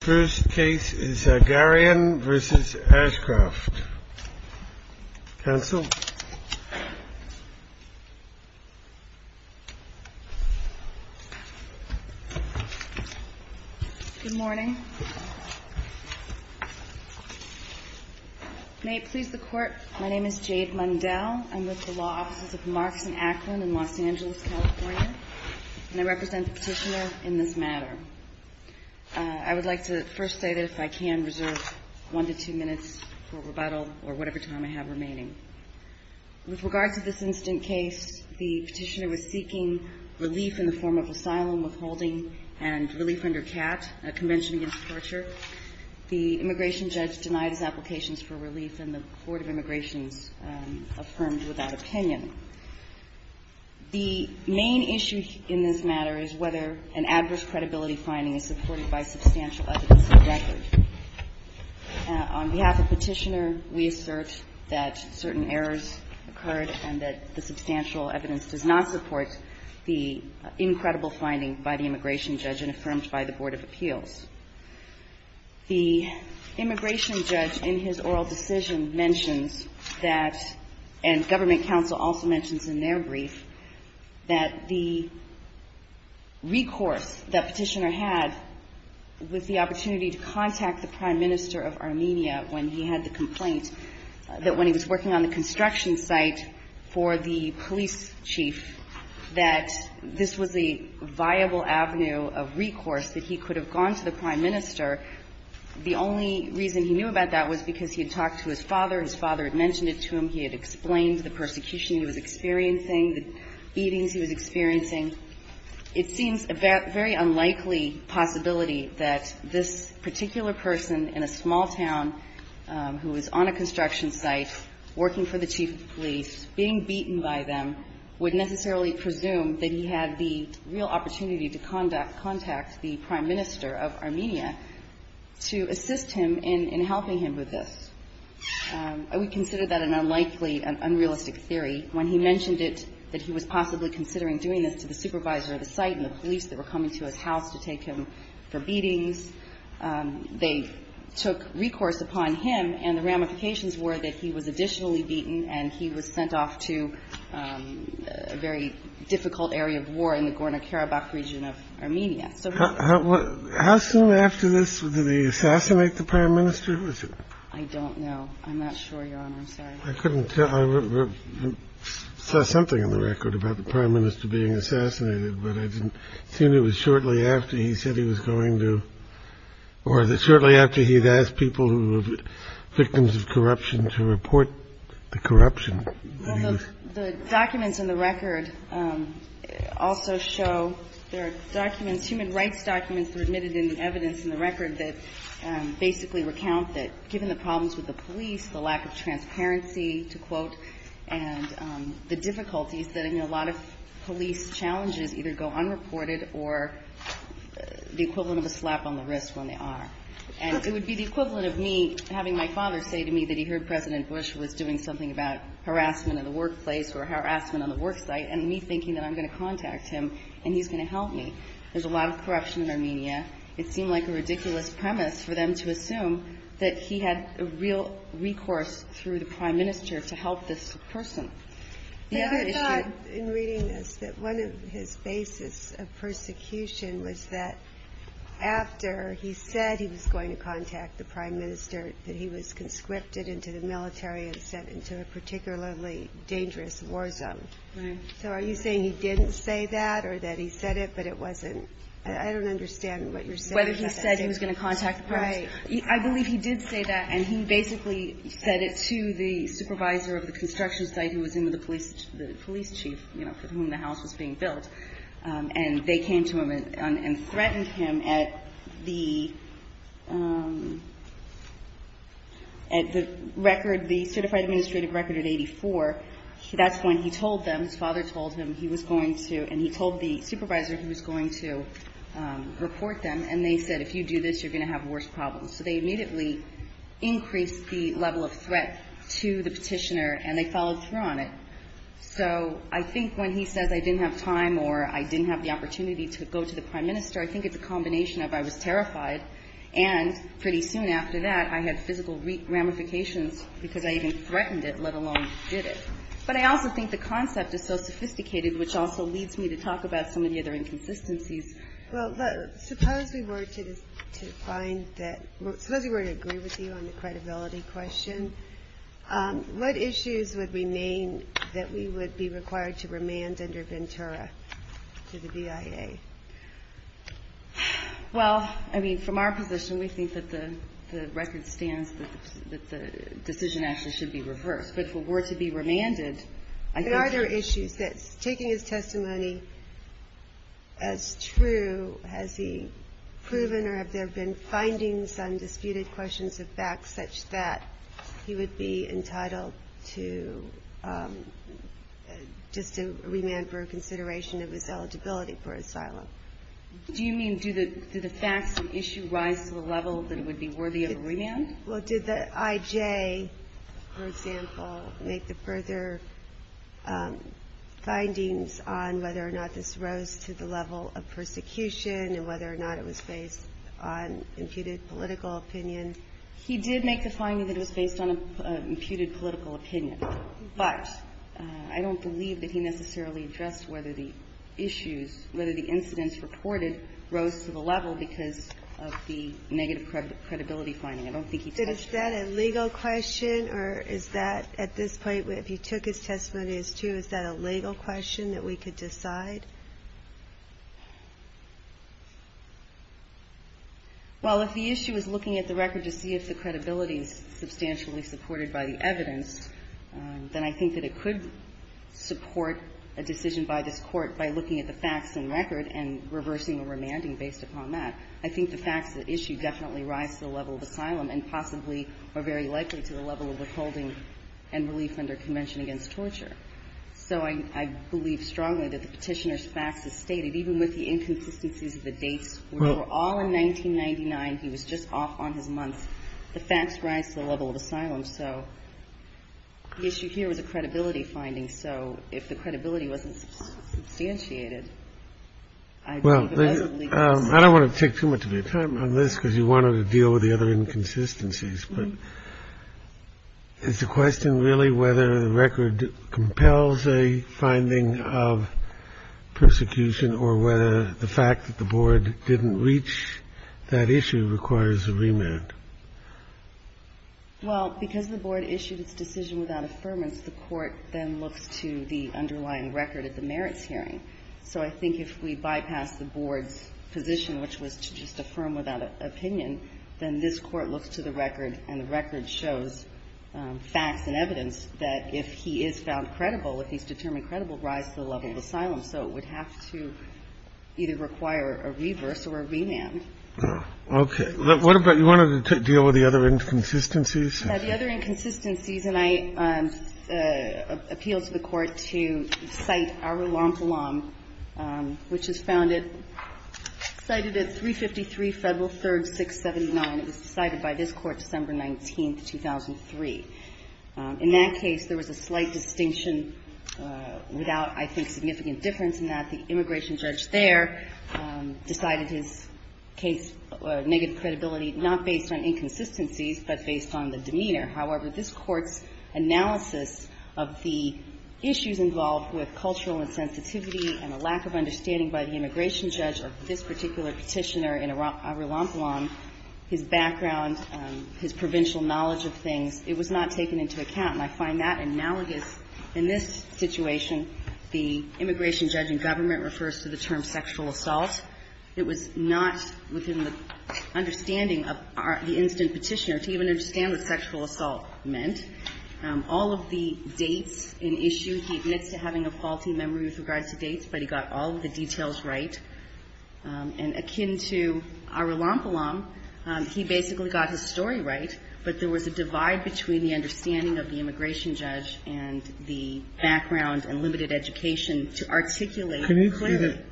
First case is Zagaryan v. Ashcroft. Counsel? Good morning. May it please the Court, my name is Jade Mundell. I'm with the Law Offices of Markson-Ackland in Los Angeles, California. And I represent the Petitioner in this matter. I would like to first say that if I can, reserve one to two minutes for rebuttal or whatever time I have remaining. With regard to this instant case, the Petitioner was seeking relief in the form of asylum, withholding, and relief under CAT, a convention against torture. The immigration judge denied his applications for relief, and the Board of Immigrations affirmed without opinion. The main issue in this matter is whether an adverse credibility finding is supported by substantial evidence of record. On behalf of Petitioner, we assert that certain errors occurred and that the substantial The immigration judge in his oral decision mentions that, and government counsel also mentions in their brief, that the recourse that Petitioner had with the opportunity to contact the Prime Minister of Armenia when he had the complaint, that when he was working on the construction site for the police chief, that this was a viable avenue of recourse that he could have gone to the Prime Minister. The only reason he knew about that was because he had talked to his father, his father had mentioned it to him, he had explained the persecution he was experiencing, the beatings he was experiencing. It seems a very unlikely possibility that this particular person in a small town who was on a construction site working for the chief of police, being beaten by them, would necessarily presume that he had the real opportunity to contact the Prime Minister of Armenia to assist him in helping him with this. We consider that an unlikely, an unrealistic theory. When he mentioned it, that he was possibly considering doing this to the supervisor of the site and the police that were coming to his house to take him for beatings, they took recourse upon him, and the ramifications were that he was additionally beaten and he was sent off to a very difficult area of war in the Gorno-Karabakh region of Armenia. How soon after this did he assassinate the Prime Minister? I don't know. I'm not sure, Your Honor, I'm sorry. I saw something in the record about the Prime Minister being assassinated, but it seemed it was shortly after he said he was going to, or shortly after he had asked people who were victims of corruption to report the corruption. Well, the documents in the record also show there are documents, human rights documents, that are admitted in the evidence in the record that basically recount that given the problems with the police, the lack of transparency, to quote, and the difficulties that a lot of police challenges either go unreported or the equivalent of a slap on the wrist when they are, and it would be the equivalent of me having my father say to me that he heard President Bush was doing something about harassment in the workplace or harassment on the work site and me thinking that I'm going to contact him and he's going to help me. There's a lot of corruption in Armenia. It seemed like a ridiculous premise for them to assume that he had a real recourse through the Prime Minister to help this person. I thought in reading this that one of his basis of persecution was that after he said he was going to contact the Prime Minister that he was conscripted into the military and sent into a particularly dangerous war zone. So are you saying he didn't say that or that he said it but it wasn't, I don't understand what you're saying. Whether he said he was going to contact the Prime Minister. I believe he did say that and he basically said it to the supervisor of the construction site who was the police chief for whom the house was being built and they came to him and threatened him at the certified administrative record at 84. That's when he told them, his father told him, he was going to, and he told the supervisor he was going to report them and they said if you do this you're going to have worse problems. So they immediately increased the level of threat to the petitioner and they followed through on it. So I think when he says I didn't have time or I didn't have the opportunity to go to the Prime Minister, I think it's a combination of I was terrified and pretty soon after that I had physical ramifications because I even threatened it let alone did it. But I also think the concept is so sophisticated which also leads me to talk about some of the other inconsistencies. Well, suppose we were to find that, suppose we were to agree with you on the credibility question, what issues would remain that we would be required to remand under Ventura to the BIA? Well, I mean, from our position we think that the record stands that the decision actually should be reversed. But if it were to be remanded, I think there are issues that, taking his testimony as true, has he proven or have there been findings on disputed questions of facts such that he would be entitled to just a remand for consideration of his eligibility for asylum? Do you mean do the facts of the issue rise to the level that it would be worthy of a remand? Well, did the IJ, for example, make the further findings on whether or not this rose to the level of persecution and whether or not it was based on imputed political opinion? He did make the finding that it was based on an imputed political opinion. But I don't believe that he necessarily addressed whether the issues, whether the incidents reported rose to the level because of the negative credibility finding. I don't think he touched on that. But is that a legal question or is that, at this point, if you took his testimony as true, is that a legal question that we could decide? Well, if the issue is looking at the record to see if the credibility is substantially supported by the evidence, then I think that it could support a decision by this Court by looking at the facts and record and reversing or remanding based upon that. I think the facts of the issue definitely rise to the level of asylum and possibly are very likely to the level of withholding and relief under Convention Against Torture. So I believe strongly that the Petitioner's facts as stated, even with the inconsistencies of the dates, were all in 1999. He was just off on his months. The facts rise to the level of asylum. So the issue here was a credibility finding. So if the credibility wasn't substantiated, I believe it was a legal issue. I don't want to take too much of your time on this because you wanted to deal with the other inconsistencies. But is the question really whether the record compels a finding of persecution or whether the fact that the Board didn't reach that issue requires a remand? Well, because the Board issued its decision without affirmance, the Court then looks to the underlying record at the merits hearing. So I think if we bypass the Board's position, which was to just affirm without opinion, then this Court looks to the record, and the record shows facts and evidence that if he is found credible, if he's determined credible, rise to the level of asylum. So it would have to either require a reverse or a remand. Okay. What about you wanted to deal with the other inconsistencies? The other inconsistencies, and I appeal to the Court to cite Arulampalam, which is founded, cited at 353 Federal 3rd, 679. It was decided by this Court December 19th, 2003. In that case, there was a slight distinction without, I think, significant difference in that the immigration judge there decided his case, negative credibility, not based on inconsistencies, but based on the demeanor. However, this Court's analysis of the issues involved with cultural insensitivity and a lack of understanding by the immigration judge of this particular Petitioner in Arulampalam, his background, his provincial knowledge of things, it was not taken into account. And I find that analogous in this situation. The immigration judge in government refers to the term sexual assault. It was not within the understanding of the incident Petitioner to even understand what sexual assault meant. All of the dates in issue, he admits to having a faulty memory with regards to dates, but he got all of the details right. And akin to Arulampalam, he basically got his story right, but there was a divide between the understanding of the immigration judge and the background and limited education to articulate clearly.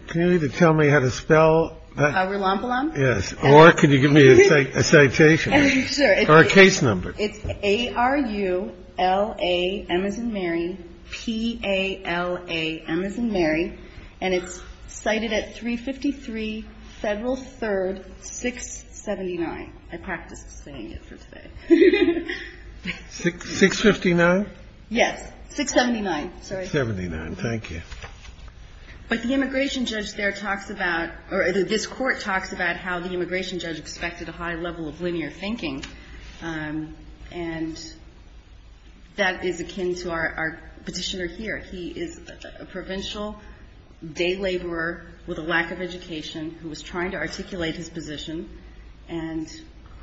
Can you tell me how to spell Arulampalam? Yes. Or can you give me a citation or a case number? It's A-R-U-L-A-M as in Mary, P-A-L-A-M as in Mary. And it's cited at 353 Federal 3rd, 679. I practiced saying it for today. 659? Yes. 679. Sorry. Thank you. But the immigration judge there talks about or this Court talks about how the immigration judge expected a high level of linear thinking, and that is akin to our Petitioner here. He is a provincial day laborer with a lack of education who was trying to articulate his position, and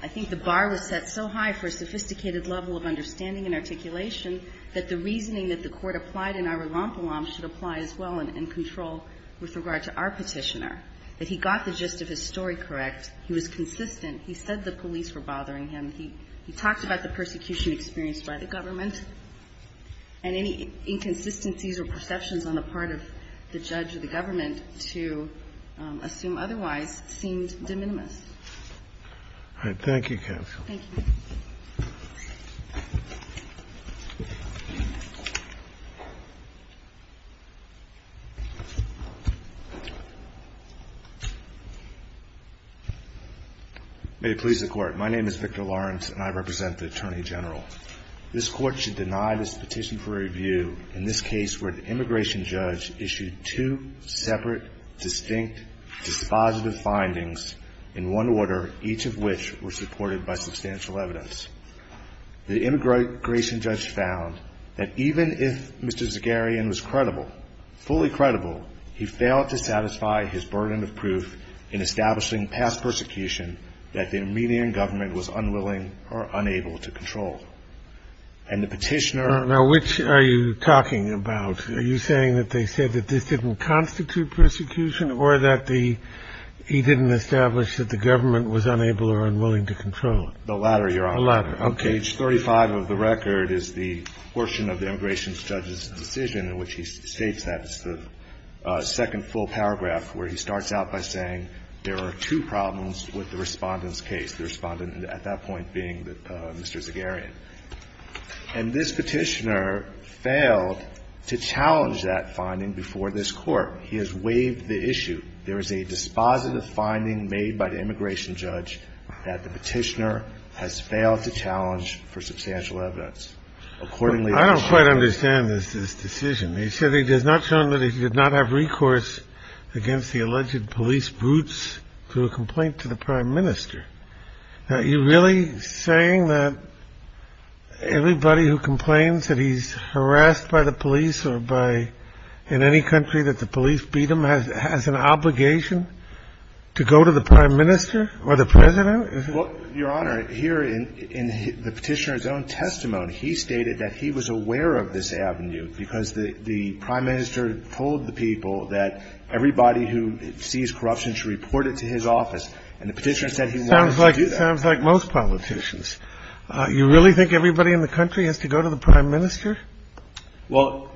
I think the bar was set so high for a sophisticated level of understanding and articulation that the reasoning that the Court applied in Arulampalam should apply as well in control with regard to our Petitioner, that he got the gist of his story correct. He was consistent. He said the police were bothering him. He talked about the persecution experienced by the government, and any inconsistencies or perceptions on the part of the judge or the government to assume otherwise seemed de minimis. All right. Thank you, counsel. Thank you. Thank you. May it please the Court. My name is Victor Lawrence and I represent the Attorney General. This Court should deny this petition for review in this case where the immigration judge issued two separate, distinct, dispositive findings in one order, each of which were supported by substantial evidence. The immigration judge found that even if Mr. Zagarian was credible, fully credible, he failed to satisfy his burden of proof in establishing past persecution that the Iranian government was unwilling or unable to control. And the petitioner – Now, which are you talking about? Are you saying that they said that this didn't constitute persecution or that he didn't establish that the government was unable or unwilling to control? The latter, Your Honor. The latter, okay. Page 35 of the record is the portion of the immigration judge's decision in which he states that. It's the second full paragraph where he starts out by saying there are two problems with the Respondent's case, the Respondent at that point being Mr. Zagarian. And this petitioner failed to challenge that finding before this Court. He has waived the issue. There is a dispositive finding made by the immigration judge that the petitioner has failed to challenge for substantial evidence. Accordingly – I don't quite understand this decision. He said he has not shown that he did not have recourse against the alleged police brutes through a complaint to the Prime Minister. Are you really saying that everybody who complains that he's harassed by the police or by – in any country that the police beat him has an obligation to go to the Prime Minister or the President? Well, Your Honor, here in the petitioner's own testimony, he stated that he was aware of this avenue because the Prime Minister told the people that everybody who sees corruption should report it to his office. And the petitioner said he wanted to do that. Sounds like most politicians. You really think everybody in the country has to go to the Prime Minister? Well,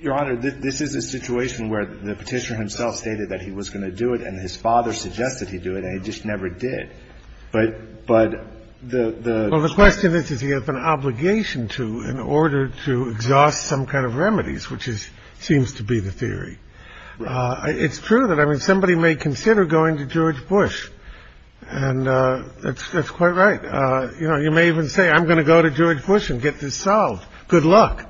Your Honor, this is a situation where the petitioner himself stated that he was going to do it, and his father suggested he do it, and he just never did. But the – Well, the question is, does he have an obligation to in order to exhaust some kind of remedies, which seems to be the theory. It's true that, I mean, somebody may consider going to George Bush. And that's quite right. You know, you may even say, I'm going to go to George Bush and get this solved. Good luck.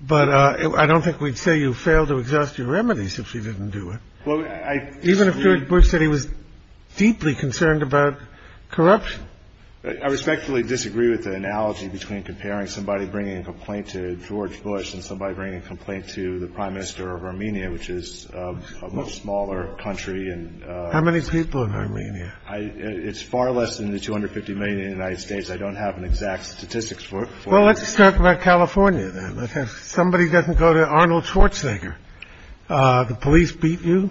But I don't think we'd say you failed to exhaust your remedies if you didn't do it. Even if George Bush said he was deeply concerned about corruption. I respectfully disagree with the analogy between comparing somebody bringing a complaint to George Bush and somebody bringing a complaint to the Prime Minister of Armenia, which is a much smaller country. How many people in Armenia? It's far less than the 250 million in the United States. I don't have an exact statistics for it. Well, let's talk about California, then. If somebody doesn't go to Arnold Schwarzenegger, the police beat you,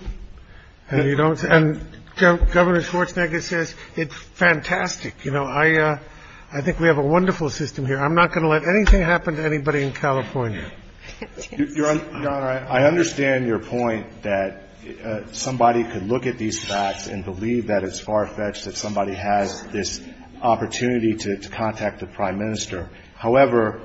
and you don't – and Governor Schwarzenegger says, it's fantastic. You know, I think we have a wonderful system here. I'm not going to let anything happen to anybody in California. Your Honor, I understand your point that somebody could look at these facts and believe that it's far-fetched that somebody has this opportunity to contact the Prime Minister. However,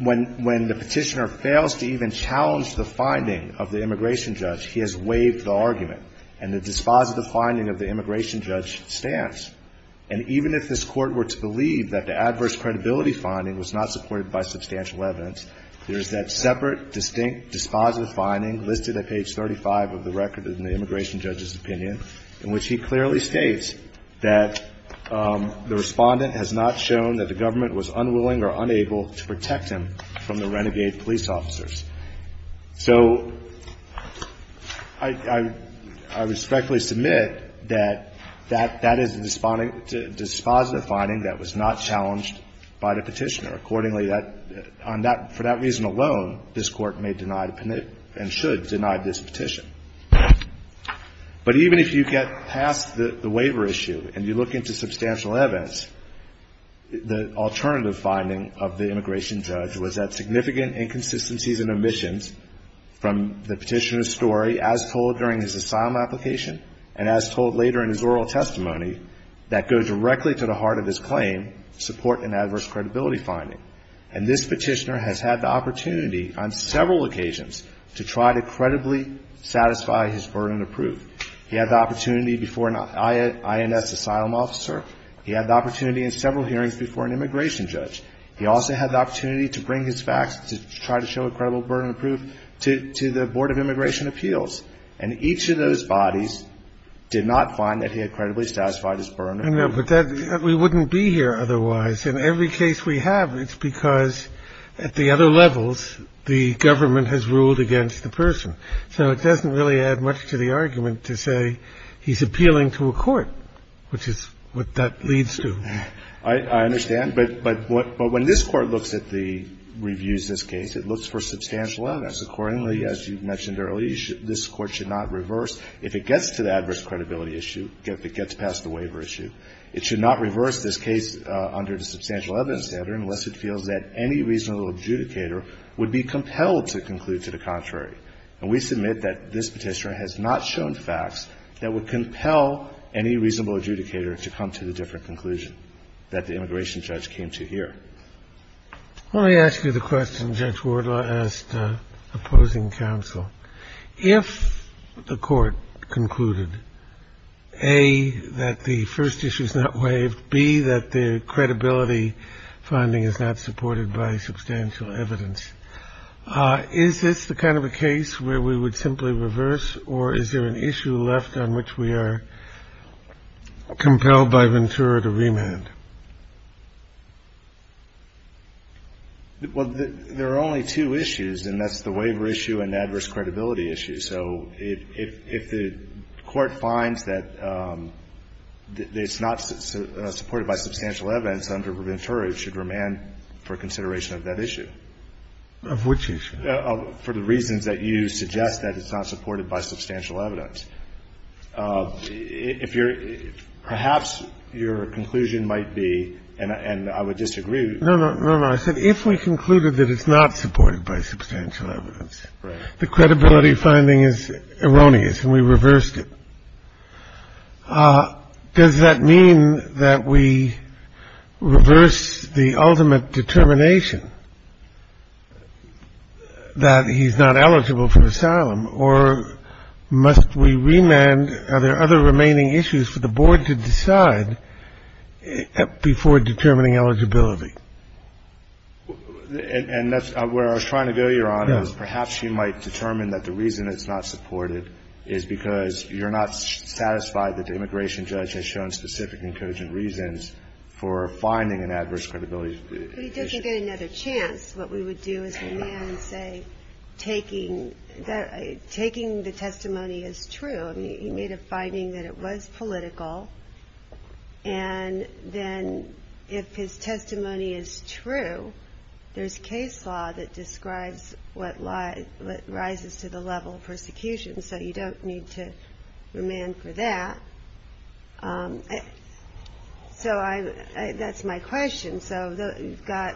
when the Petitioner fails to even challenge the finding of the immigration judge, he has waived the argument. And the dispositive finding of the immigration judge stands. And even if this Court were to believe that the adverse credibility finding was not supported by substantial evidence, there is that separate, distinct, dispositive finding listed at page 35 of the record in the immigration judge's opinion, in which he clearly states that the Respondent has not shown that the government was unwilling or unable to protect him from the renegade police officers. So I respectfully submit that that is a dispositive finding that was not challenged by the Petitioner. Accordingly, for that reason alone, this Court may deny and should deny this petition. But even if you get past the waiver issue and you look into substantial evidence, the alternative finding of the immigration judge was that significant inconsistencies and omissions from the Petitioner's story, as told during his asylum application and as told later in his oral testimony, that go directly to the heart of his claim, support an adverse credibility finding. And this Petitioner has had the opportunity on several occasions to try to credibly satisfy his burden of proof. He had the opportunity before an INS asylum officer. He had the opportunity in several hearings before an immigration judge. He also had the opportunity to bring his facts to try to show a credible burden of proof to the Board of Immigration Appeals. And each of those bodies did not find that he had credibly satisfied his burden of proof. I know, but we wouldn't be here otherwise. In every case we have, it's because at the other levels, the government has ruled against the person. So it doesn't really add much to the argument to say he's appealing to a court, which is what that leads to. I understand. But when this Court looks at the reviews of this case, it looks for substantial evidence. Accordingly, as you mentioned earlier, this Court should not reverse. If it gets to the adverse credibility issue, if it gets past the waiver issue, it should not reverse this case under the substantial evidence standard unless it feels that any reasonable adjudicator would be compelled to conclude to the contrary. And we submit that this Petitioner has not shown facts that would compel any reasonable adjudicator to come to the different conclusion that the immigration judge came to here. Let me ask you the question Judge Wardlaw asked opposing counsel. If the Court concluded, A, that the first issue is not waived, B, that the credibility finding is not supported by substantial evidence, is this the kind of a case where we would simply reverse, or is there an issue left on which we are compelled by Ventura to remand? Well, there are only two issues, and that's the waiver issue and adverse credibility issue. So if the Court finds that it's not supported by substantial evidence under Ventura, it should remand for consideration of that issue. Of which issue? For the reasons that you suggest, that it's not supported by substantial evidence. Perhaps your conclusion might be, and I would disagree. No, no, no, no. I said if we concluded that it's not supported by substantial evidence, the credibility finding is erroneous and we reversed it, does that mean that we reverse the ultimate determination that he's not eligible for asylum? Or must we remand, are there other remaining issues for the Board to decide before determining eligibility? And that's where I was trying to go, Your Honor, is perhaps you might determine that the reason it's not supported is because you're not satisfied that the immigration judge has shown specific and cogent reasons for finding an adverse credibility If we did get another chance, what we would do is remand and say, taking the testimony as true, he made a finding that it was political, and then if his testimony is true, there's case law that describes what rises to the level of persecution, so you don't need to remand for that. So that's my question. So you've got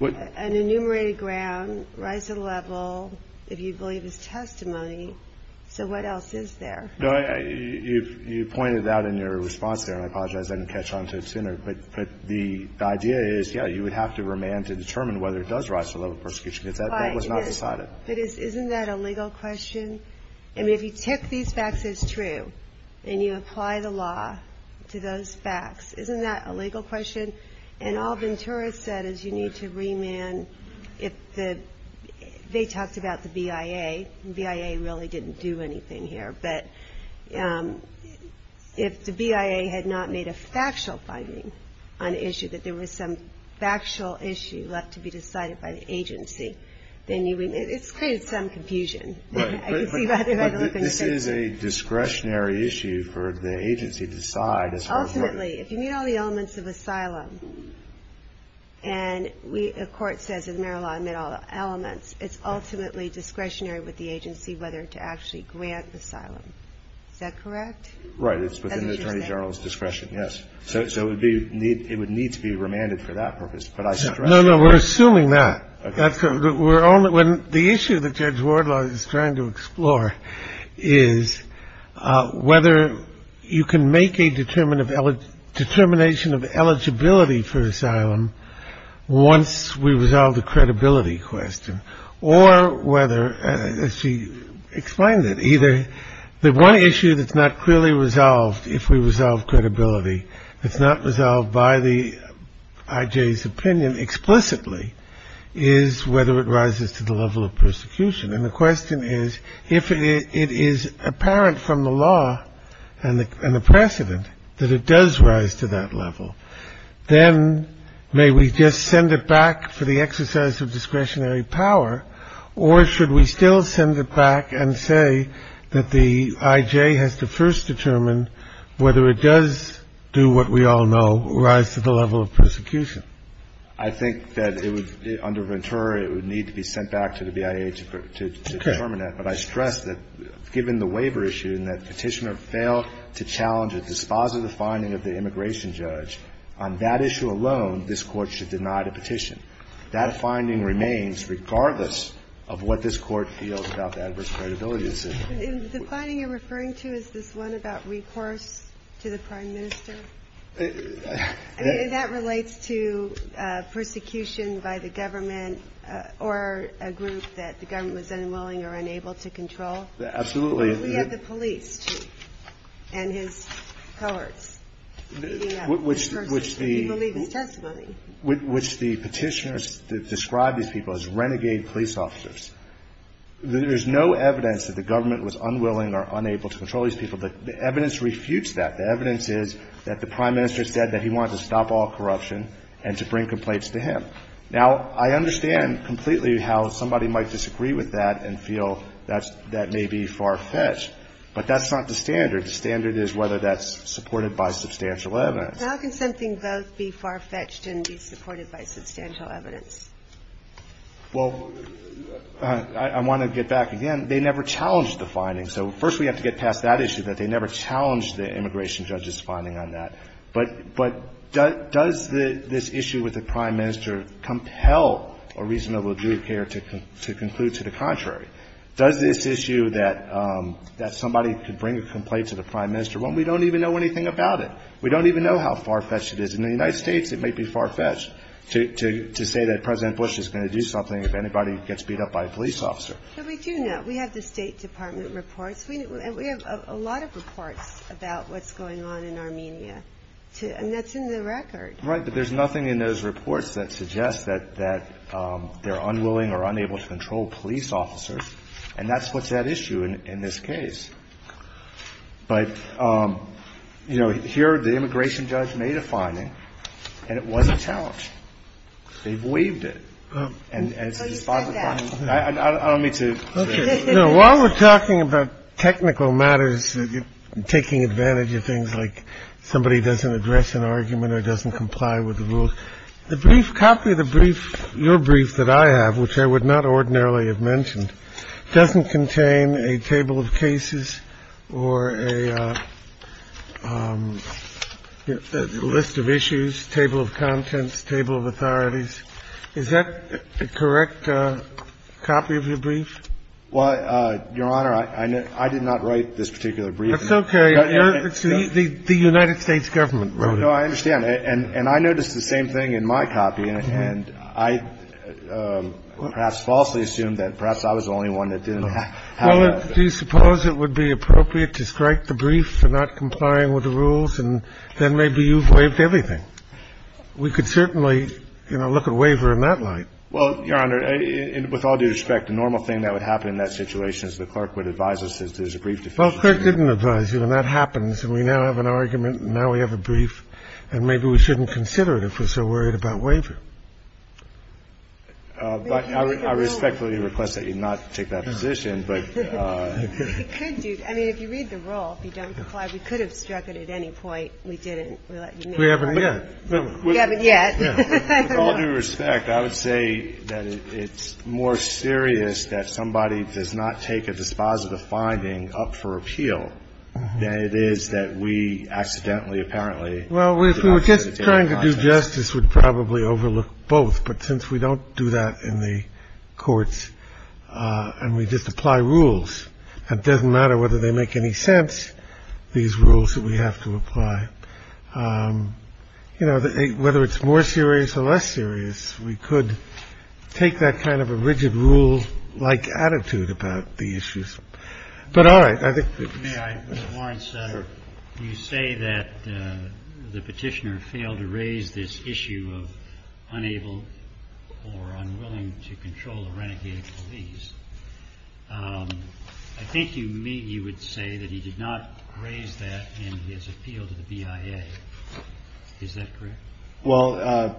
an enumerated ground, rise to the level, if you believe his testimony, so what else is there? No, you pointed out in your response there, and I apologize, I didn't catch on to it sooner, but the idea is, yes, you would have to remand to determine whether it does rise to the level of persecution because that was not decided. But isn't that a legal question? I mean, if you take these facts as true, and you apply the law to those facts, isn't that a legal question? And all Ventura said is you need to remand if the, they talked about the BIA, and BIA really didn't do anything here, but if the BIA had not made a factual finding on the issue, that there was some factual issue left to be decided by the agency, then you would It's created some confusion. But this is a discretionary issue for the agency to decide. Ultimately, if you meet all the elements of asylum, and a court says in the merit law I met all the elements, it's ultimately discretionary with the agency whether to actually grant asylum. Is that correct? Right, it's within the attorney general's discretion, yes. So it would need to be remanded for that purpose. No, no, we're assuming that. The issue that Judge Wardlaw is trying to explore is whether you can make a determination of eligibility for asylum once we resolve the credibility question, or whether, as she explained it, either the one issue that's not clearly resolved if we resolve credibility, it's not resolved by the IJ's opinion explicitly, is whether it rises to the level of persecution. And the question is, if it is apparent from the law and the precedent that it does rise to that level, then may we just send it back for the exercise of discretionary power, or should we still send it back and say that the IJ has to first determine whether it does do what we all know, rise to the level of persecution? I think that it would, under Ventura, it would need to be sent back to the BIA to determine that. But I stress that, given the waiver issue and that Petitioner failed to challenge a dispositive finding of the immigration judge, on that issue alone, this Court should deny the petition. That finding remains, regardless of what this Court feels about the adverse credibility it's in. The finding you're referring to, is this one about recourse to the Prime Minister? That relates to persecution by the government or a group that the government was unwilling or unable to control? Absolutely. We have the police, too, and his cohorts. Which the petitioners that describe these people as renegade police officers. There's no evidence that the government was unwilling or unable to control these people. The evidence refutes that. The evidence is that the Prime Minister said that he wanted to stop all corruption and to bring complaints to him. Now, I understand completely how somebody might disagree with that and feel that that may be far-fetched, but that's not the standard. The standard is whether that's supported by substantial evidence. How can something both be far-fetched and be supported by substantial evidence? Well, I want to get back again. They never challenged the findings. So first we have to get past that issue, that they never challenged the immigration judge's finding on that. But does this issue with the Prime Minister compel a reasonable jury pair to conclude to the contrary? Does this issue that somebody could bring a complaint to the Prime Minister, well, we don't even know anything about it. We don't even know how far-fetched it is. In the United States, it may be far-fetched to say that President Bush is going to do something if anybody gets beat up by a police officer. But we do know. We have the State Department reports. We have a lot of reports about what's going on in Armenia. And that's in the record. Right, but there's nothing in those reports that suggests that they're unwilling or unwilling to do anything. And that's what's at issue in this case. But, you know, here the immigration judge made a finding, and it wasn't challenged. They've waived it. And it's a response to the finding. I don't mean to say that. While we're talking about technical matters, taking advantage of things like somebody doesn't address an argument or doesn't comply with the rules, the brief copy of the doesn't contain a table of cases or a list of issues, table of contents, table of authorities. Is that a correct copy of your brief? Well, Your Honor, I did not write this particular brief. That's okay. The United States government wrote it. No, I understand. And I noticed the same thing in my copy. And I perhaps falsely assumed that perhaps I was the only one that didn't have that. Well, do you suppose it would be appropriate to strike the brief for not complying with the rules, and then maybe you've waived everything? We could certainly, you know, look at waiver in that light. Well, Your Honor, with all due respect, the normal thing that would happen in that situation is the clerk would advise us that there's a brief deficiency. Well, the clerk didn't advise you, and that happens. And we now have an argument, and now we have a brief. And maybe we shouldn't consider it if we're so worried about waiver. But I respectfully request that you not take that position. It could do. I mean, if you read the rule, if you don't comply, we could have struck it at any point. We didn't. We haven't yet. We haven't yet. With all due respect, I would say that it's more serious that somebody does not take a dispositive appeal than it is that we accidentally, apparently. Well, if we were just trying to do justice, we'd probably overlook both. But since we don't do that in the courts and we just apply rules, it doesn't matter whether they make any sense, these rules that we have to apply, you know, whether it's more serious or less serious, we could take that kind of a rigid rule-like attitude about the issues. But all right. I think. Mr. Warren, you say that the Petitioner failed to raise this issue of unable or unwilling to control a renegade police. I think you would say that he did not raise that in his appeal to the BIA. Is that correct? Well,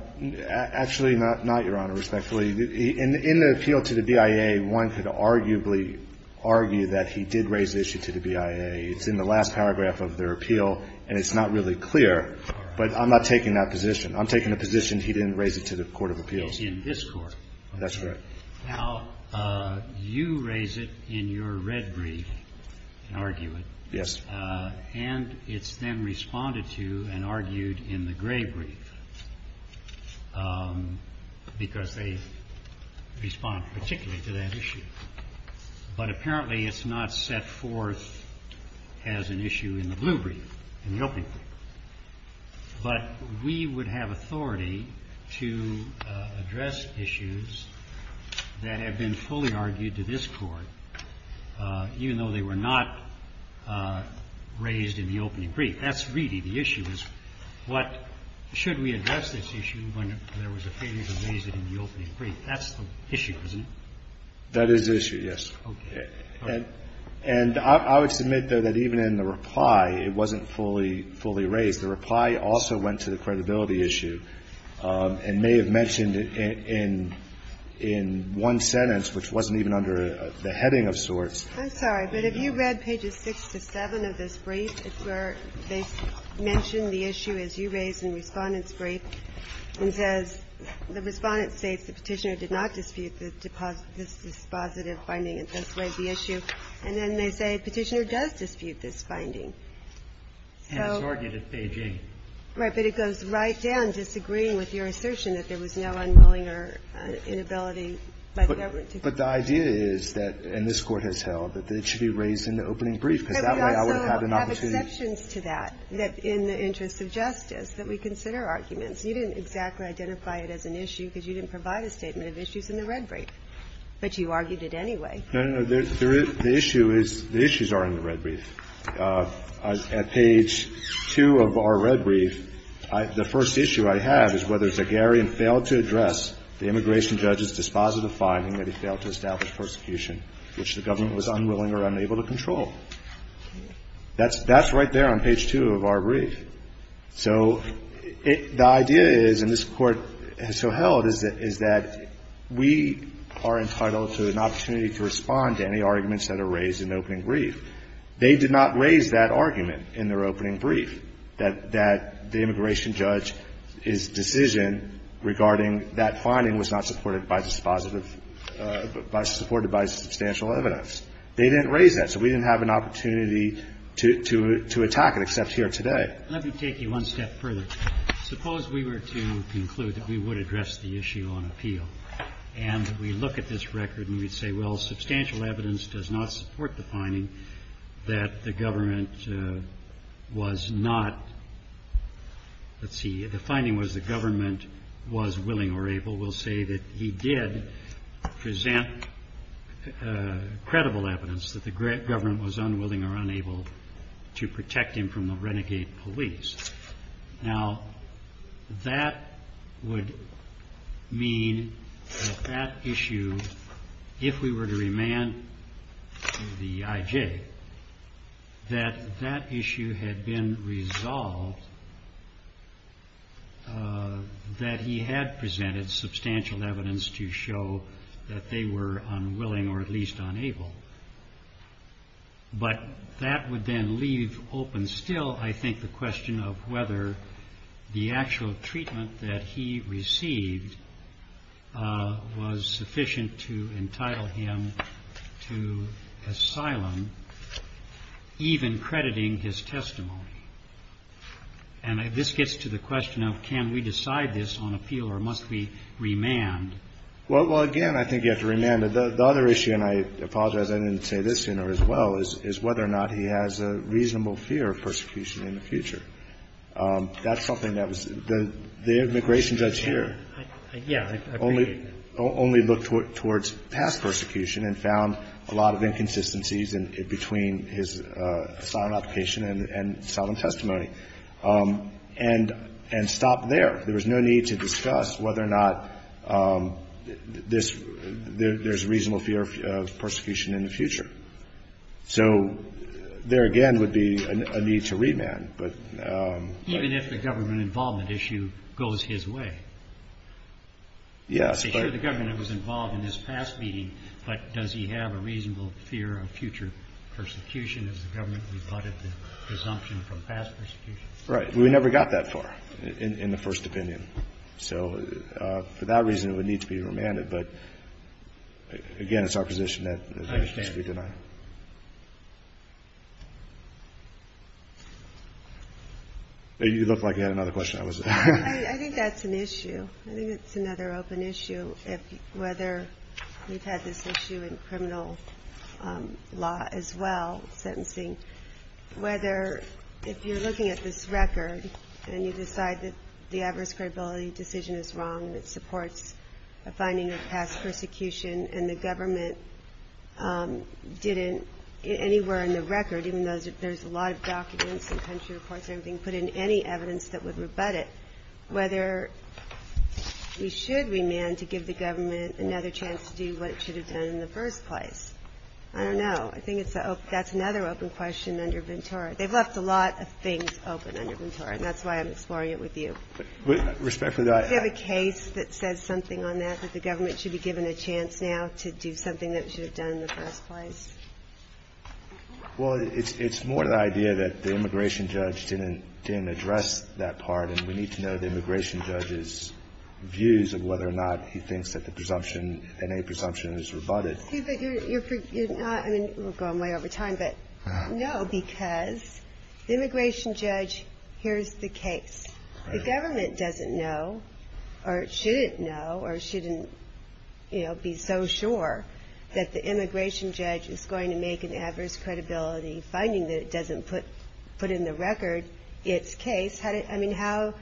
actually, not, Your Honor, respectfully. In the appeal to the BIA, one could arguably argue that he did raise the issue to the BIA. It's in the last paragraph of their appeal, and it's not really clear. But I'm not taking that position. I'm taking the position he didn't raise it to the court of appeals. In this court. That's correct. Now, you raise it in your red brief, an argument. Yes. And it's then responded to and argued in the gray brief because they respond particularly to that issue. But apparently it's not set forth as an issue in the blue brief, in the opening brief. But we would have authority to address issues that have been fully argued to this court, even though they were not raised in the opening brief. That's really the issue, is what should we address this issue when there was a failure to raise it in the opening brief. That's the issue, isn't it? That is the issue, yes. Okay. And I would submit, though, that even in the reply, it wasn't fully raised. The reply also went to the credibility issue and may have mentioned in one sentence, which wasn't even under the heading of sorts. I'm sorry. But have you read pages 6 to 7 of this brief? It's where they mention the issue, as you raised in Respondent's brief, and says the Respondent states the Petitioner did not dispute this dispositive finding and thus raised the issue. And then they say Petitioner does dispute this finding. And it's argued at page 8. Right. But it goes right down, disagreeing with your assertion that there was no unwilling Petitioner inability by the government to do so. But the idea is that, and this Court has held, that it should be raised in the opening brief, because that way I would have had an opportunity. But we also have exceptions to that, that in the interest of justice, that we consider arguments. You didn't exactly identify it as an issue because you didn't provide a statement of issues in the red brief. But you argued it anyway. No, no, no. The issue is the issues are in the red brief. The immigration judge's dispositive finding that he failed to establish persecution, which the government was unwilling or unable to control. That's right there on page 2 of our brief. So the idea is, and this Court has so held, is that we are entitled to an opportunity to respond to any arguments that are raised in the opening brief. They did not raise that argument in their opening brief, that the immigration judge's decision regarding that finding was not supported by dispositive by supported by substantial evidence. They didn't raise that. So we didn't have an opportunity to attack it, except here today. Let me take you one step further. Suppose we were to conclude that we would address the issue on appeal. And we look at this record and we say, well, substantial evidence does not support the finding that the government was not. Let's see. The finding was the government was willing or able. We'll say that he did present credible evidence that the government was unwilling or unable to protect him from the renegade police. Now, that would mean that that issue, if we were to remand the IJ, that that issue had been resolved that he had presented substantial evidence to show that they were unwilling or at least unable. But that would then leave open still, I think, the question of whether the actual treatment that he received was sufficient to entitle him to asylum, even crediting his testimony. And this gets to the question of can we decide this on appeal or must we remand? Well, again, I think you have to remand. The other issue, and I apologize I didn't say this sooner as well, is whether or not he has a reasonable fear of persecution in the future. That's something that was the immigration judge here only looked towards past persecution and found a lot of inconsistencies between his asylum application and asylum testimony and stopped there. There was no need to discuss whether or not there's a reasonable fear of persecution in the future. So there, again, would be a need to remand. Even if the government involvement issue goes his way? Yes. He was involved in this past meeting, but does he have a reasonable fear of future persecution as the government rebutted the presumption from past persecution? Right. We never got that far in the first opinion. So for that reason, it would need to be remanded. But, again, it's our position that it must be denied. I understand. You looked like you had another question. I think that's an issue. I think it's another open issue whether we've had this issue in criminal law as well, sentencing, whether if you're looking at this record and you decide that the adverse credibility decision is wrong and it supports a finding of past persecution and the government didn't anywhere in the record, even though there's a lot of documents and country reports and everything put in any evidence that would rebut it, whether we should remand to give the government another chance to do what it should have done in the first place. I don't know. I think that's another open question under Ventura. They've left a lot of things open under Ventura, and that's why I'm exploring it with you. Respectfully, I – Do you have a case that says something on that, that the government should be given a chance now to do something that it should have done in the first place? Well, it's more the idea that the immigration judge didn't address that part, and we need to know the immigration judge's views of whether or not he thinks that the presumption, NA presumption, is rebutted. Excuse me, but you're not – I mean, we're going way over time, but no, because the immigration judge hears the case. The government doesn't know or shouldn't know or shouldn't, you know, be so sure that the immigration judge is going to make an adverse credibility finding that it doesn't put in the record its case. I mean, how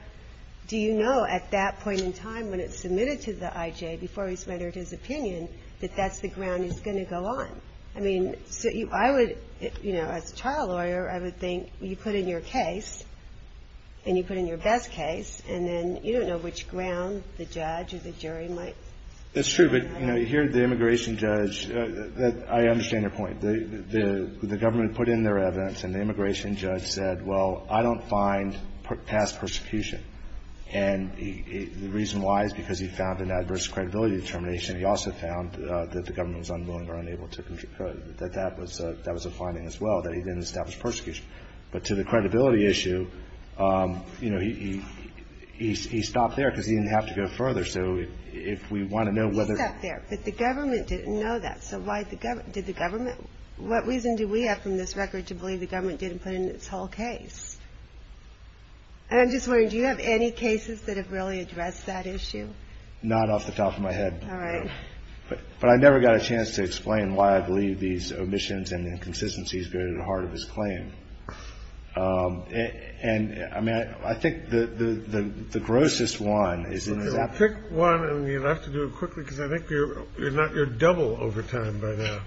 do you know at that point in time when it's submitted to the IJ, before he's rendered his opinion, that that's the ground he's going to go on? I mean, so I would – you know, as a trial lawyer, I would think you put in your case and you put in your best case, and then you don't know which ground the judge or the jury might – That's true, but, you know, here the immigration judge – I understand your point. The government put in their evidence, and the immigration judge said, well, I don't find past persecution, and the reason why is because he found an adverse credibility determination. He also found that the government was unwilling or unable to – that that was a finding as well, that he didn't establish persecution. But to the credibility issue, you know, he stopped there because he didn't have to go further. So if we want to know whether – He stopped there, but the government didn't know that. So why did the government – what reason do we have from this record to believe the government didn't put in its whole case? And I'm just wondering, do you have any cases that have really addressed that issue? Not off the top of my head, no. All right. But I never got a chance to explain why I believe these omissions and inconsistencies go to the heart of his claim. And, I mean, I think the grossest one is in his – Well, pick one, and we'll have to do it quickly, because I think you're double over time by now.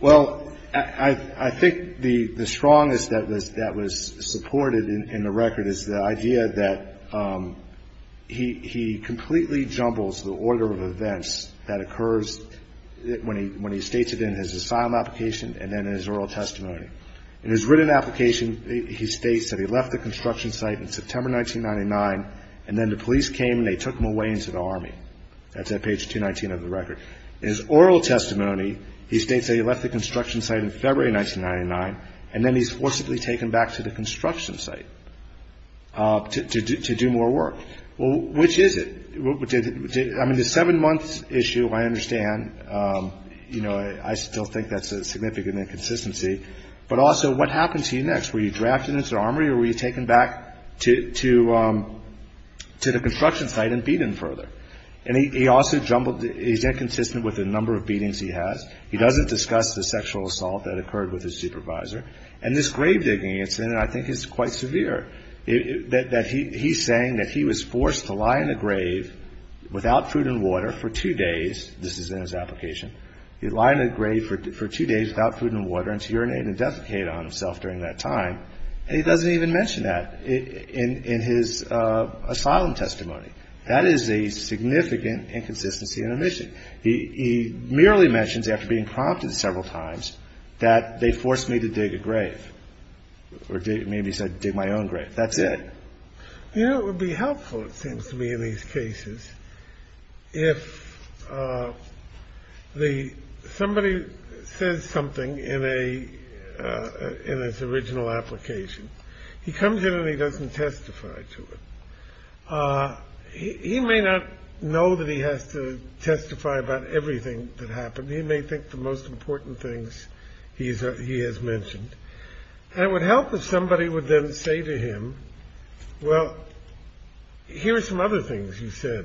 Well, I think the strongest that was supported in the record is the idea that he completely jumbles the order of events that occurs when he states it in his asylum application and then in his oral testimony. In his written application, he states that he left the construction site in September 1999, and then the police came and they took him away into the Army. That's at page 219 of the record. In his oral testimony, he states that he left the construction site in February 1999, and then he's forcibly taken back to the construction site to do more work. Well, which is it? I mean, the seven-month issue, I understand. I still think that's a significant inconsistency. But also, what happened to you next? Were you drafted into the Armory, or were you taken back to the construction site and beaten further? And he's inconsistent with the number of beatings he has. He doesn't discuss the sexual assault that occurred with his supervisor. And this grave digging incident, I think, is quite severe. He's saying that he was forced to lie in a grave without food and water for two days. This is in his application. He'd lie in a grave for two days without food and water and to urinate and defecate on himself during that time. And he doesn't even mention that in his asylum testimony. That is a significant inconsistency and omission. He merely mentions, after being prompted several times, that they forced me to dig a grave, or maybe he said dig my own grave. That's it. You know, it would be helpful, it seems to me in these cases, if somebody says something in his original application, he comes in and he doesn't testify to it. He may not know that he has to testify about everything that happened. He may think the most important things he has mentioned. And it would help if somebody would then say to him, well, here are some other things you said.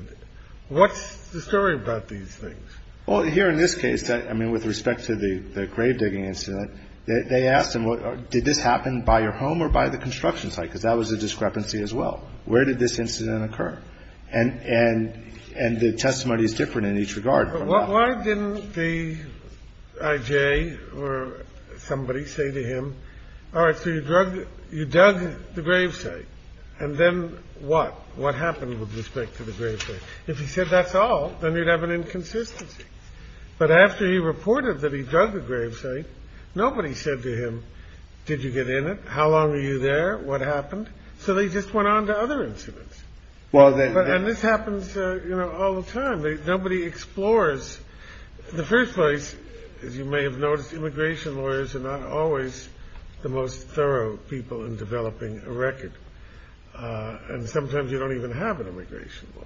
What's the story about these things? Well, here in this case, I mean, with respect to the grave digging incident, they asked him, did this happen by your home or by the construction site? Because that was a discrepancy as well. Where did this incident occur? And the testimony is different in each regard. But why didn't the I.J. or somebody say to him, all right, so you dug the gravesite, and then what? What happened with respect to the gravesite? If he said that's all, then you'd have an inconsistency. But after he reported that he dug the gravesite, nobody said to him, did you get in it? How long were you there? What happened? So they just went on to other incidents. And this happens all the time. Nobody explores. The first place, as you may have noticed, immigration lawyers are not always the most thorough people in developing a record. And sometimes you don't even have an immigration lawyer.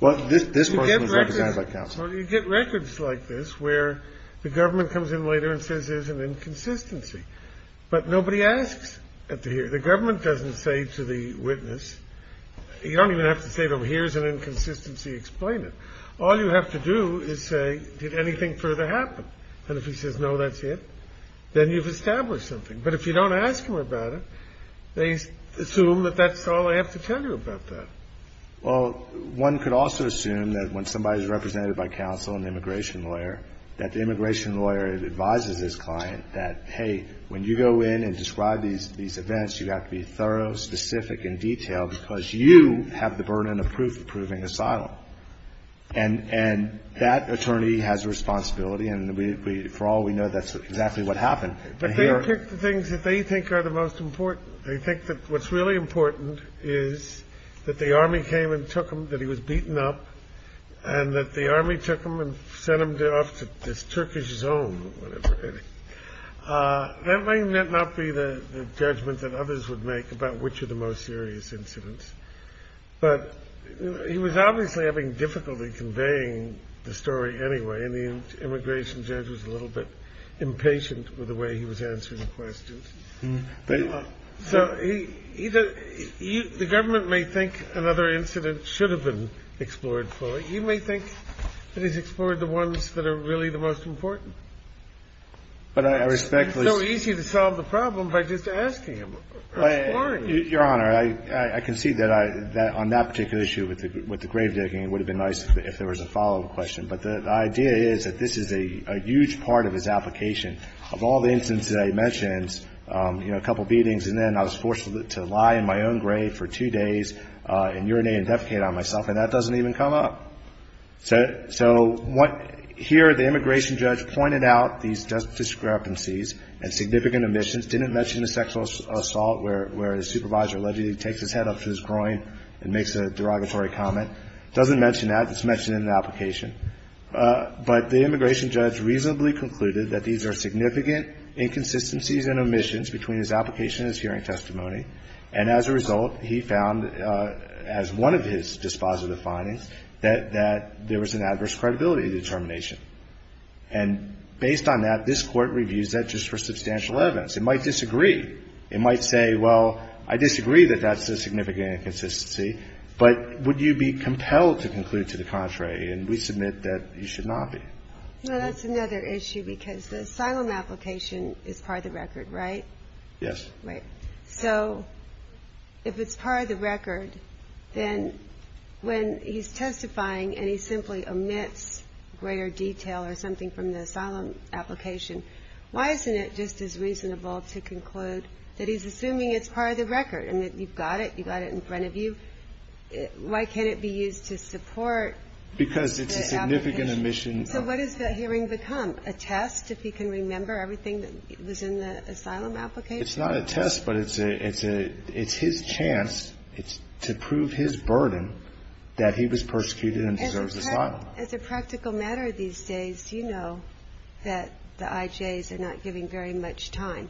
Well, this person was represented by counsel. Well, you get records like this where the government comes in later and says there's an inconsistency. But nobody asks at the hearing. The government doesn't say to the witness, you don't even have to say, well, here's an inconsistency. Explain it. All you have to do is say, did anything further happen? And if he says, no, that's it, then you've established something. But if you don't ask him about it, they assume that that's all I have to tell you about that. Well, one could also assume that when somebody is represented by counsel and the immigration lawyer, that the immigration lawyer advises his client that, hey, when you go in and describe these events, you have to be thorough, specific, and detailed because you have the burden of proof of proving asylum. And that attorney has a responsibility, and for all we know, that's exactly what happened. But they pick the things that they think are the most important. I think that what's really important is that the army came and took him, that he was beaten up, and that the army took him and sent him off to this Turkish zone. That might not be the judgment that others would make about which are the most serious incidents. But he was obviously having difficulty conveying the story anyway, and the immigration judge was a little bit impatient with the way he was answering questions. So the government may think another incident should have been explored fully. You may think that he's explored the ones that are really the most important. It's so easy to solve the problem by just asking him or inquiring. Your Honor, I concede that on that particular issue with the grave digging, it would have been nice if there was a follow-up question. But the idea is that this is a huge part of his application. Of all the incidents that he mentions, you know, a couple beatings, and then I was forced to lie in my own grave for two days and urinate and defecate on myself, and that doesn't even come up. So here the immigration judge pointed out these discrepancies and significant omissions, didn't mention the sexual assault where the supervisor allegedly takes his head off his groin and makes a derogatory comment. Doesn't mention that. It's mentioned in the application. But the immigration judge reasonably concluded that these are significant inconsistencies and omissions between his application and his hearing testimony, and as a result he found as one of his dispositive findings that there was an adverse credibility determination. And based on that, this Court reviews that just for substantial evidence. It might disagree. It might say, well, I disagree that that's a significant inconsistency, but would you be compelled to conclude to the contrary? And we submit that you should not be. Well, that's another issue because the asylum application is part of the record, right? Yes. Right. So if it's part of the record, then when he's testifying and he simply omits greater detail or something from the asylum application, why isn't it just as reasonable to conclude that he's assuming it's part of the record and that you've got it, you've got it in front of you? Why can't it be used to support the application? Because it's a significant omission. So what does the hearing become? A test if he can remember everything that was in the asylum application? It's not a test, but it's his chance to prove his burden that he was persecuted and deserves asylum. As a practical matter these days, you know that the IJs are not giving very much time,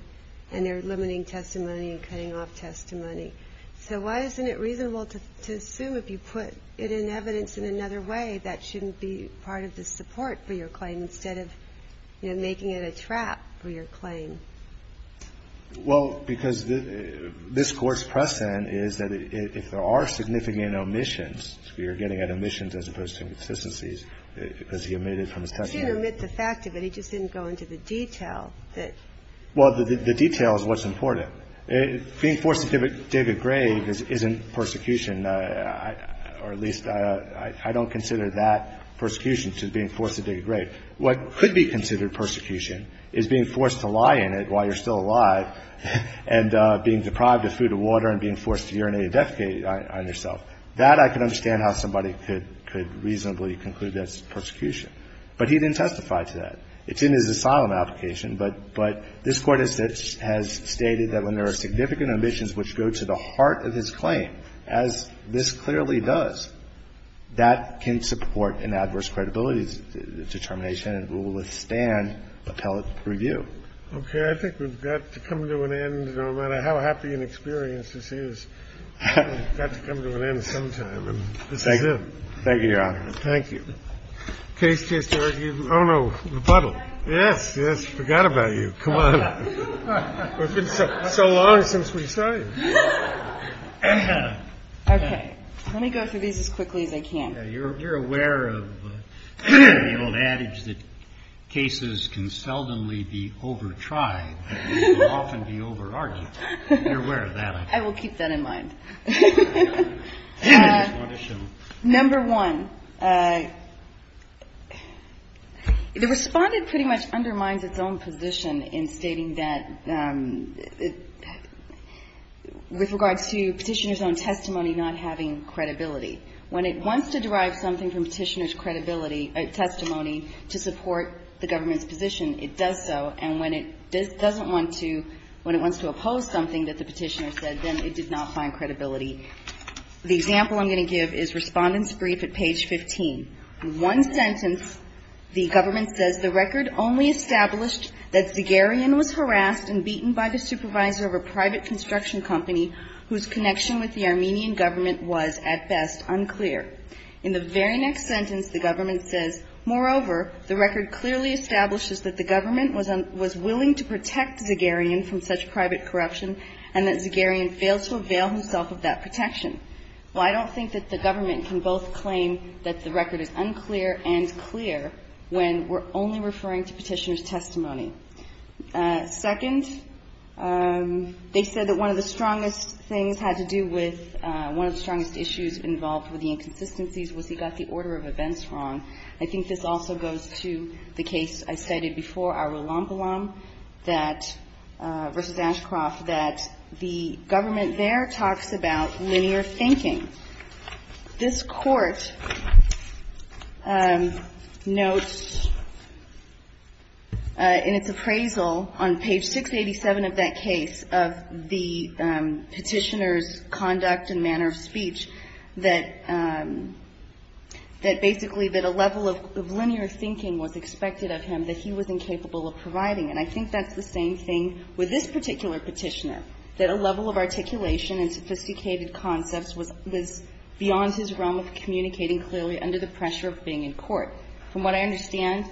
and they're limiting testimony and cutting off testimony. So why isn't it reasonable to assume if you put it in evidence in another way that shouldn't be part of the support for your claim instead of, you know, making it a trap for your claim? Well, because this Court's precedent is that if there are significant omissions, you're getting at omissions as opposed to inconsistencies because he omitted from his testimony. He didn't omit the fact of it. He just didn't go into the detail. Well, the detail is what's important. Being forced to dig a grave isn't persecution, or at least I don't consider that persecution to being forced to dig a grave. What could be considered persecution is being forced to lie in it while you're still alive and being deprived of food and water and being forced to urinate and defecate on yourself. That I can understand how somebody could reasonably conclude that's persecution. But he didn't testify to that. It's in his asylum application. But this Court has stated that when there are significant omissions which go to the heart of his claim, as this clearly does, that can support an adverse credibility determination and will withstand appellate review. Okay. I think we've got to come to an end, no matter how happy and experienced this is. We've got to come to an end sometime, and this is it. Thank you, Your Honor. Thank you. Case to argue. Oh, no. Rebuttal. Yes, yes. Forgot about you. Come on. It's been so long since we saw you. Okay. Let me go through these as quickly as I can. You're aware of the old adage that cases can seldomly be over-tried, but they can often be over-argued. You're aware of that. I will keep that in mind. Number one, the Respondent pretty much undermines its own position in stating that with regard to Petitioner's own testimony not having credibility. When it wants to derive something from Petitioner's credibility or testimony to support the government's position, it does so. And when it doesn't want to, when it wants to oppose something that the Petitioner said, then it did not find credibility. The example I'm going to give is Respondent's brief at page 15. In one sentence, the government says, the record only established that Zagarian was harassed and beaten by the supervisor of a private construction company whose connection with the Armenian government was, at best, unclear. In the very next sentence, the government says, moreover, the record clearly establishes that the government was willing to protect Zagarian from such private corruption and that Zagarian failed to avail himself of that protection. Well, I don't think that the government can both claim that the record is unclear and clear when we're only referring to Petitioner's testimony. Second, they said that one of the strongest things had to do with one of the strongest issues involved with the inconsistencies was he got the order of events wrong. I think this also goes to the case I cited before, Arulambulam versus Ashcroft, that the government there talks about linear thinking. This Court notes in its appraisal on page 687 of that case of the Petitioner's conduct and manner of speech that basically that a level of linear thinking was expected of him that he was incapable of providing. And I think that's the same thing with this particular Petitioner, that a level of articulation and sophisticated concepts was beyond his realm of communicating clearly under the pressure of being in court. From what I understand,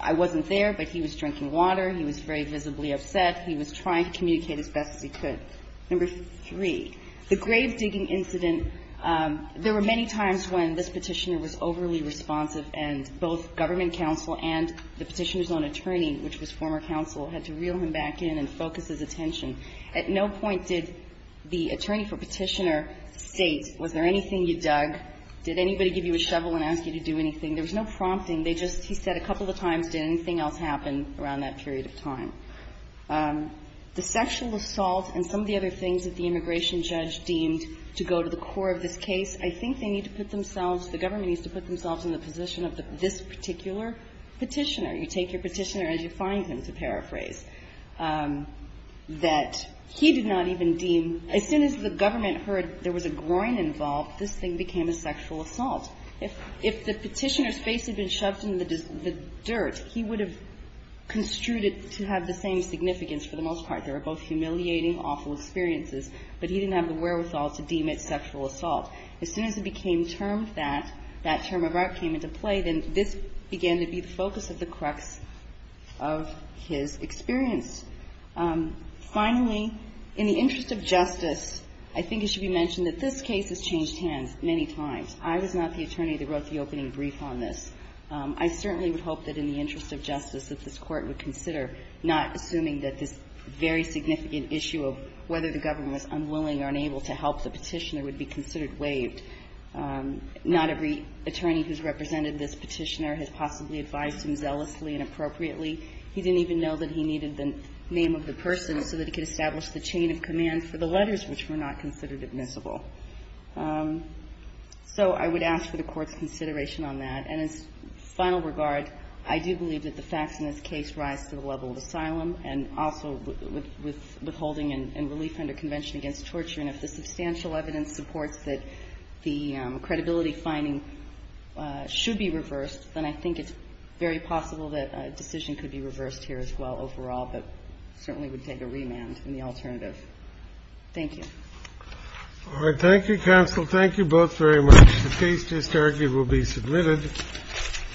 I wasn't there, but he was drinking water, he was very visibly upset, he was trying to communicate as best as he could. Number three, the grave digging incident, there were many times when this Petitioner was overly responsive and both government counsel and the Petitioner's own attorney, which was former counsel, had to reel him back in and focus his attention. At no point did the attorney for Petitioner state, was there anything you dug? Did anybody give you a shovel and ask you to do anything? There was no prompting. They just, he said a couple of times, did anything else happen around that period of time? The sexual assault and some of the other things that the immigration judge deemed to go to the core of this case, I think they need to put themselves, the government needs to put themselves in the position of this particular Petitioner. You take your Petitioner as you find him, to paraphrase, that he did not even deem as soon as the government heard there was a groin involved, this thing became a sexual assault. If the Petitioner's face had been shoved in the dirt, he would have construed it to have the same significance for the most part. They were both humiliating, awful experiences, but he didn't have the wherewithal to deem it sexual assault. As soon as it became termed that, that term of art came into play, then this began to be the focus of the crux of his experience. Finally, in the interest of justice, I think it should be mentioned that this case has changed hands many times. I was not the attorney that wrote the opening brief on this. I certainly would hope that in the interest of justice that this Court would consider, not assuming that this very significant issue of whether the government was unwilling or unable to help the Petitioner would be considered waived. Not every attorney who's represented this Petitioner has possibly advised him zealously and appropriately. He didn't even know that he needed the name of the person so that he could establish the chain of command for the letters which were not considered admissible. So I would ask for the Court's consideration on that. And as final regard, I do believe that the facts in this case rise to the level of asylum and also withholding and relief under convention against torture. And if the substantial evidence supports that the credibility finding should be reversed, then I think it's very possible that a decision could be reversed here as well overall, but certainly would take a remand in the alternative. Thank you. All right. Thank you, Counsel. Thank you both very much. The case just argued will be submitted.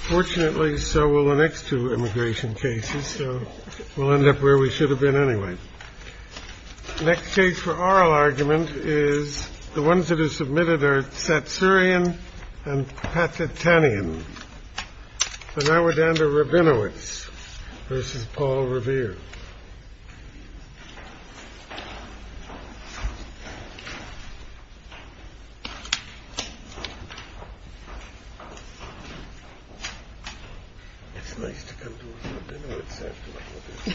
Fortunately, so will the next two immigration cases. So we'll end up where we should have been anyway. Next case for oral argument is the ones that are submitted are Satsurian and Patitanian. And now we're down to Rabinowitz versus Paul Revere. It's nice to come to Rabinowitz.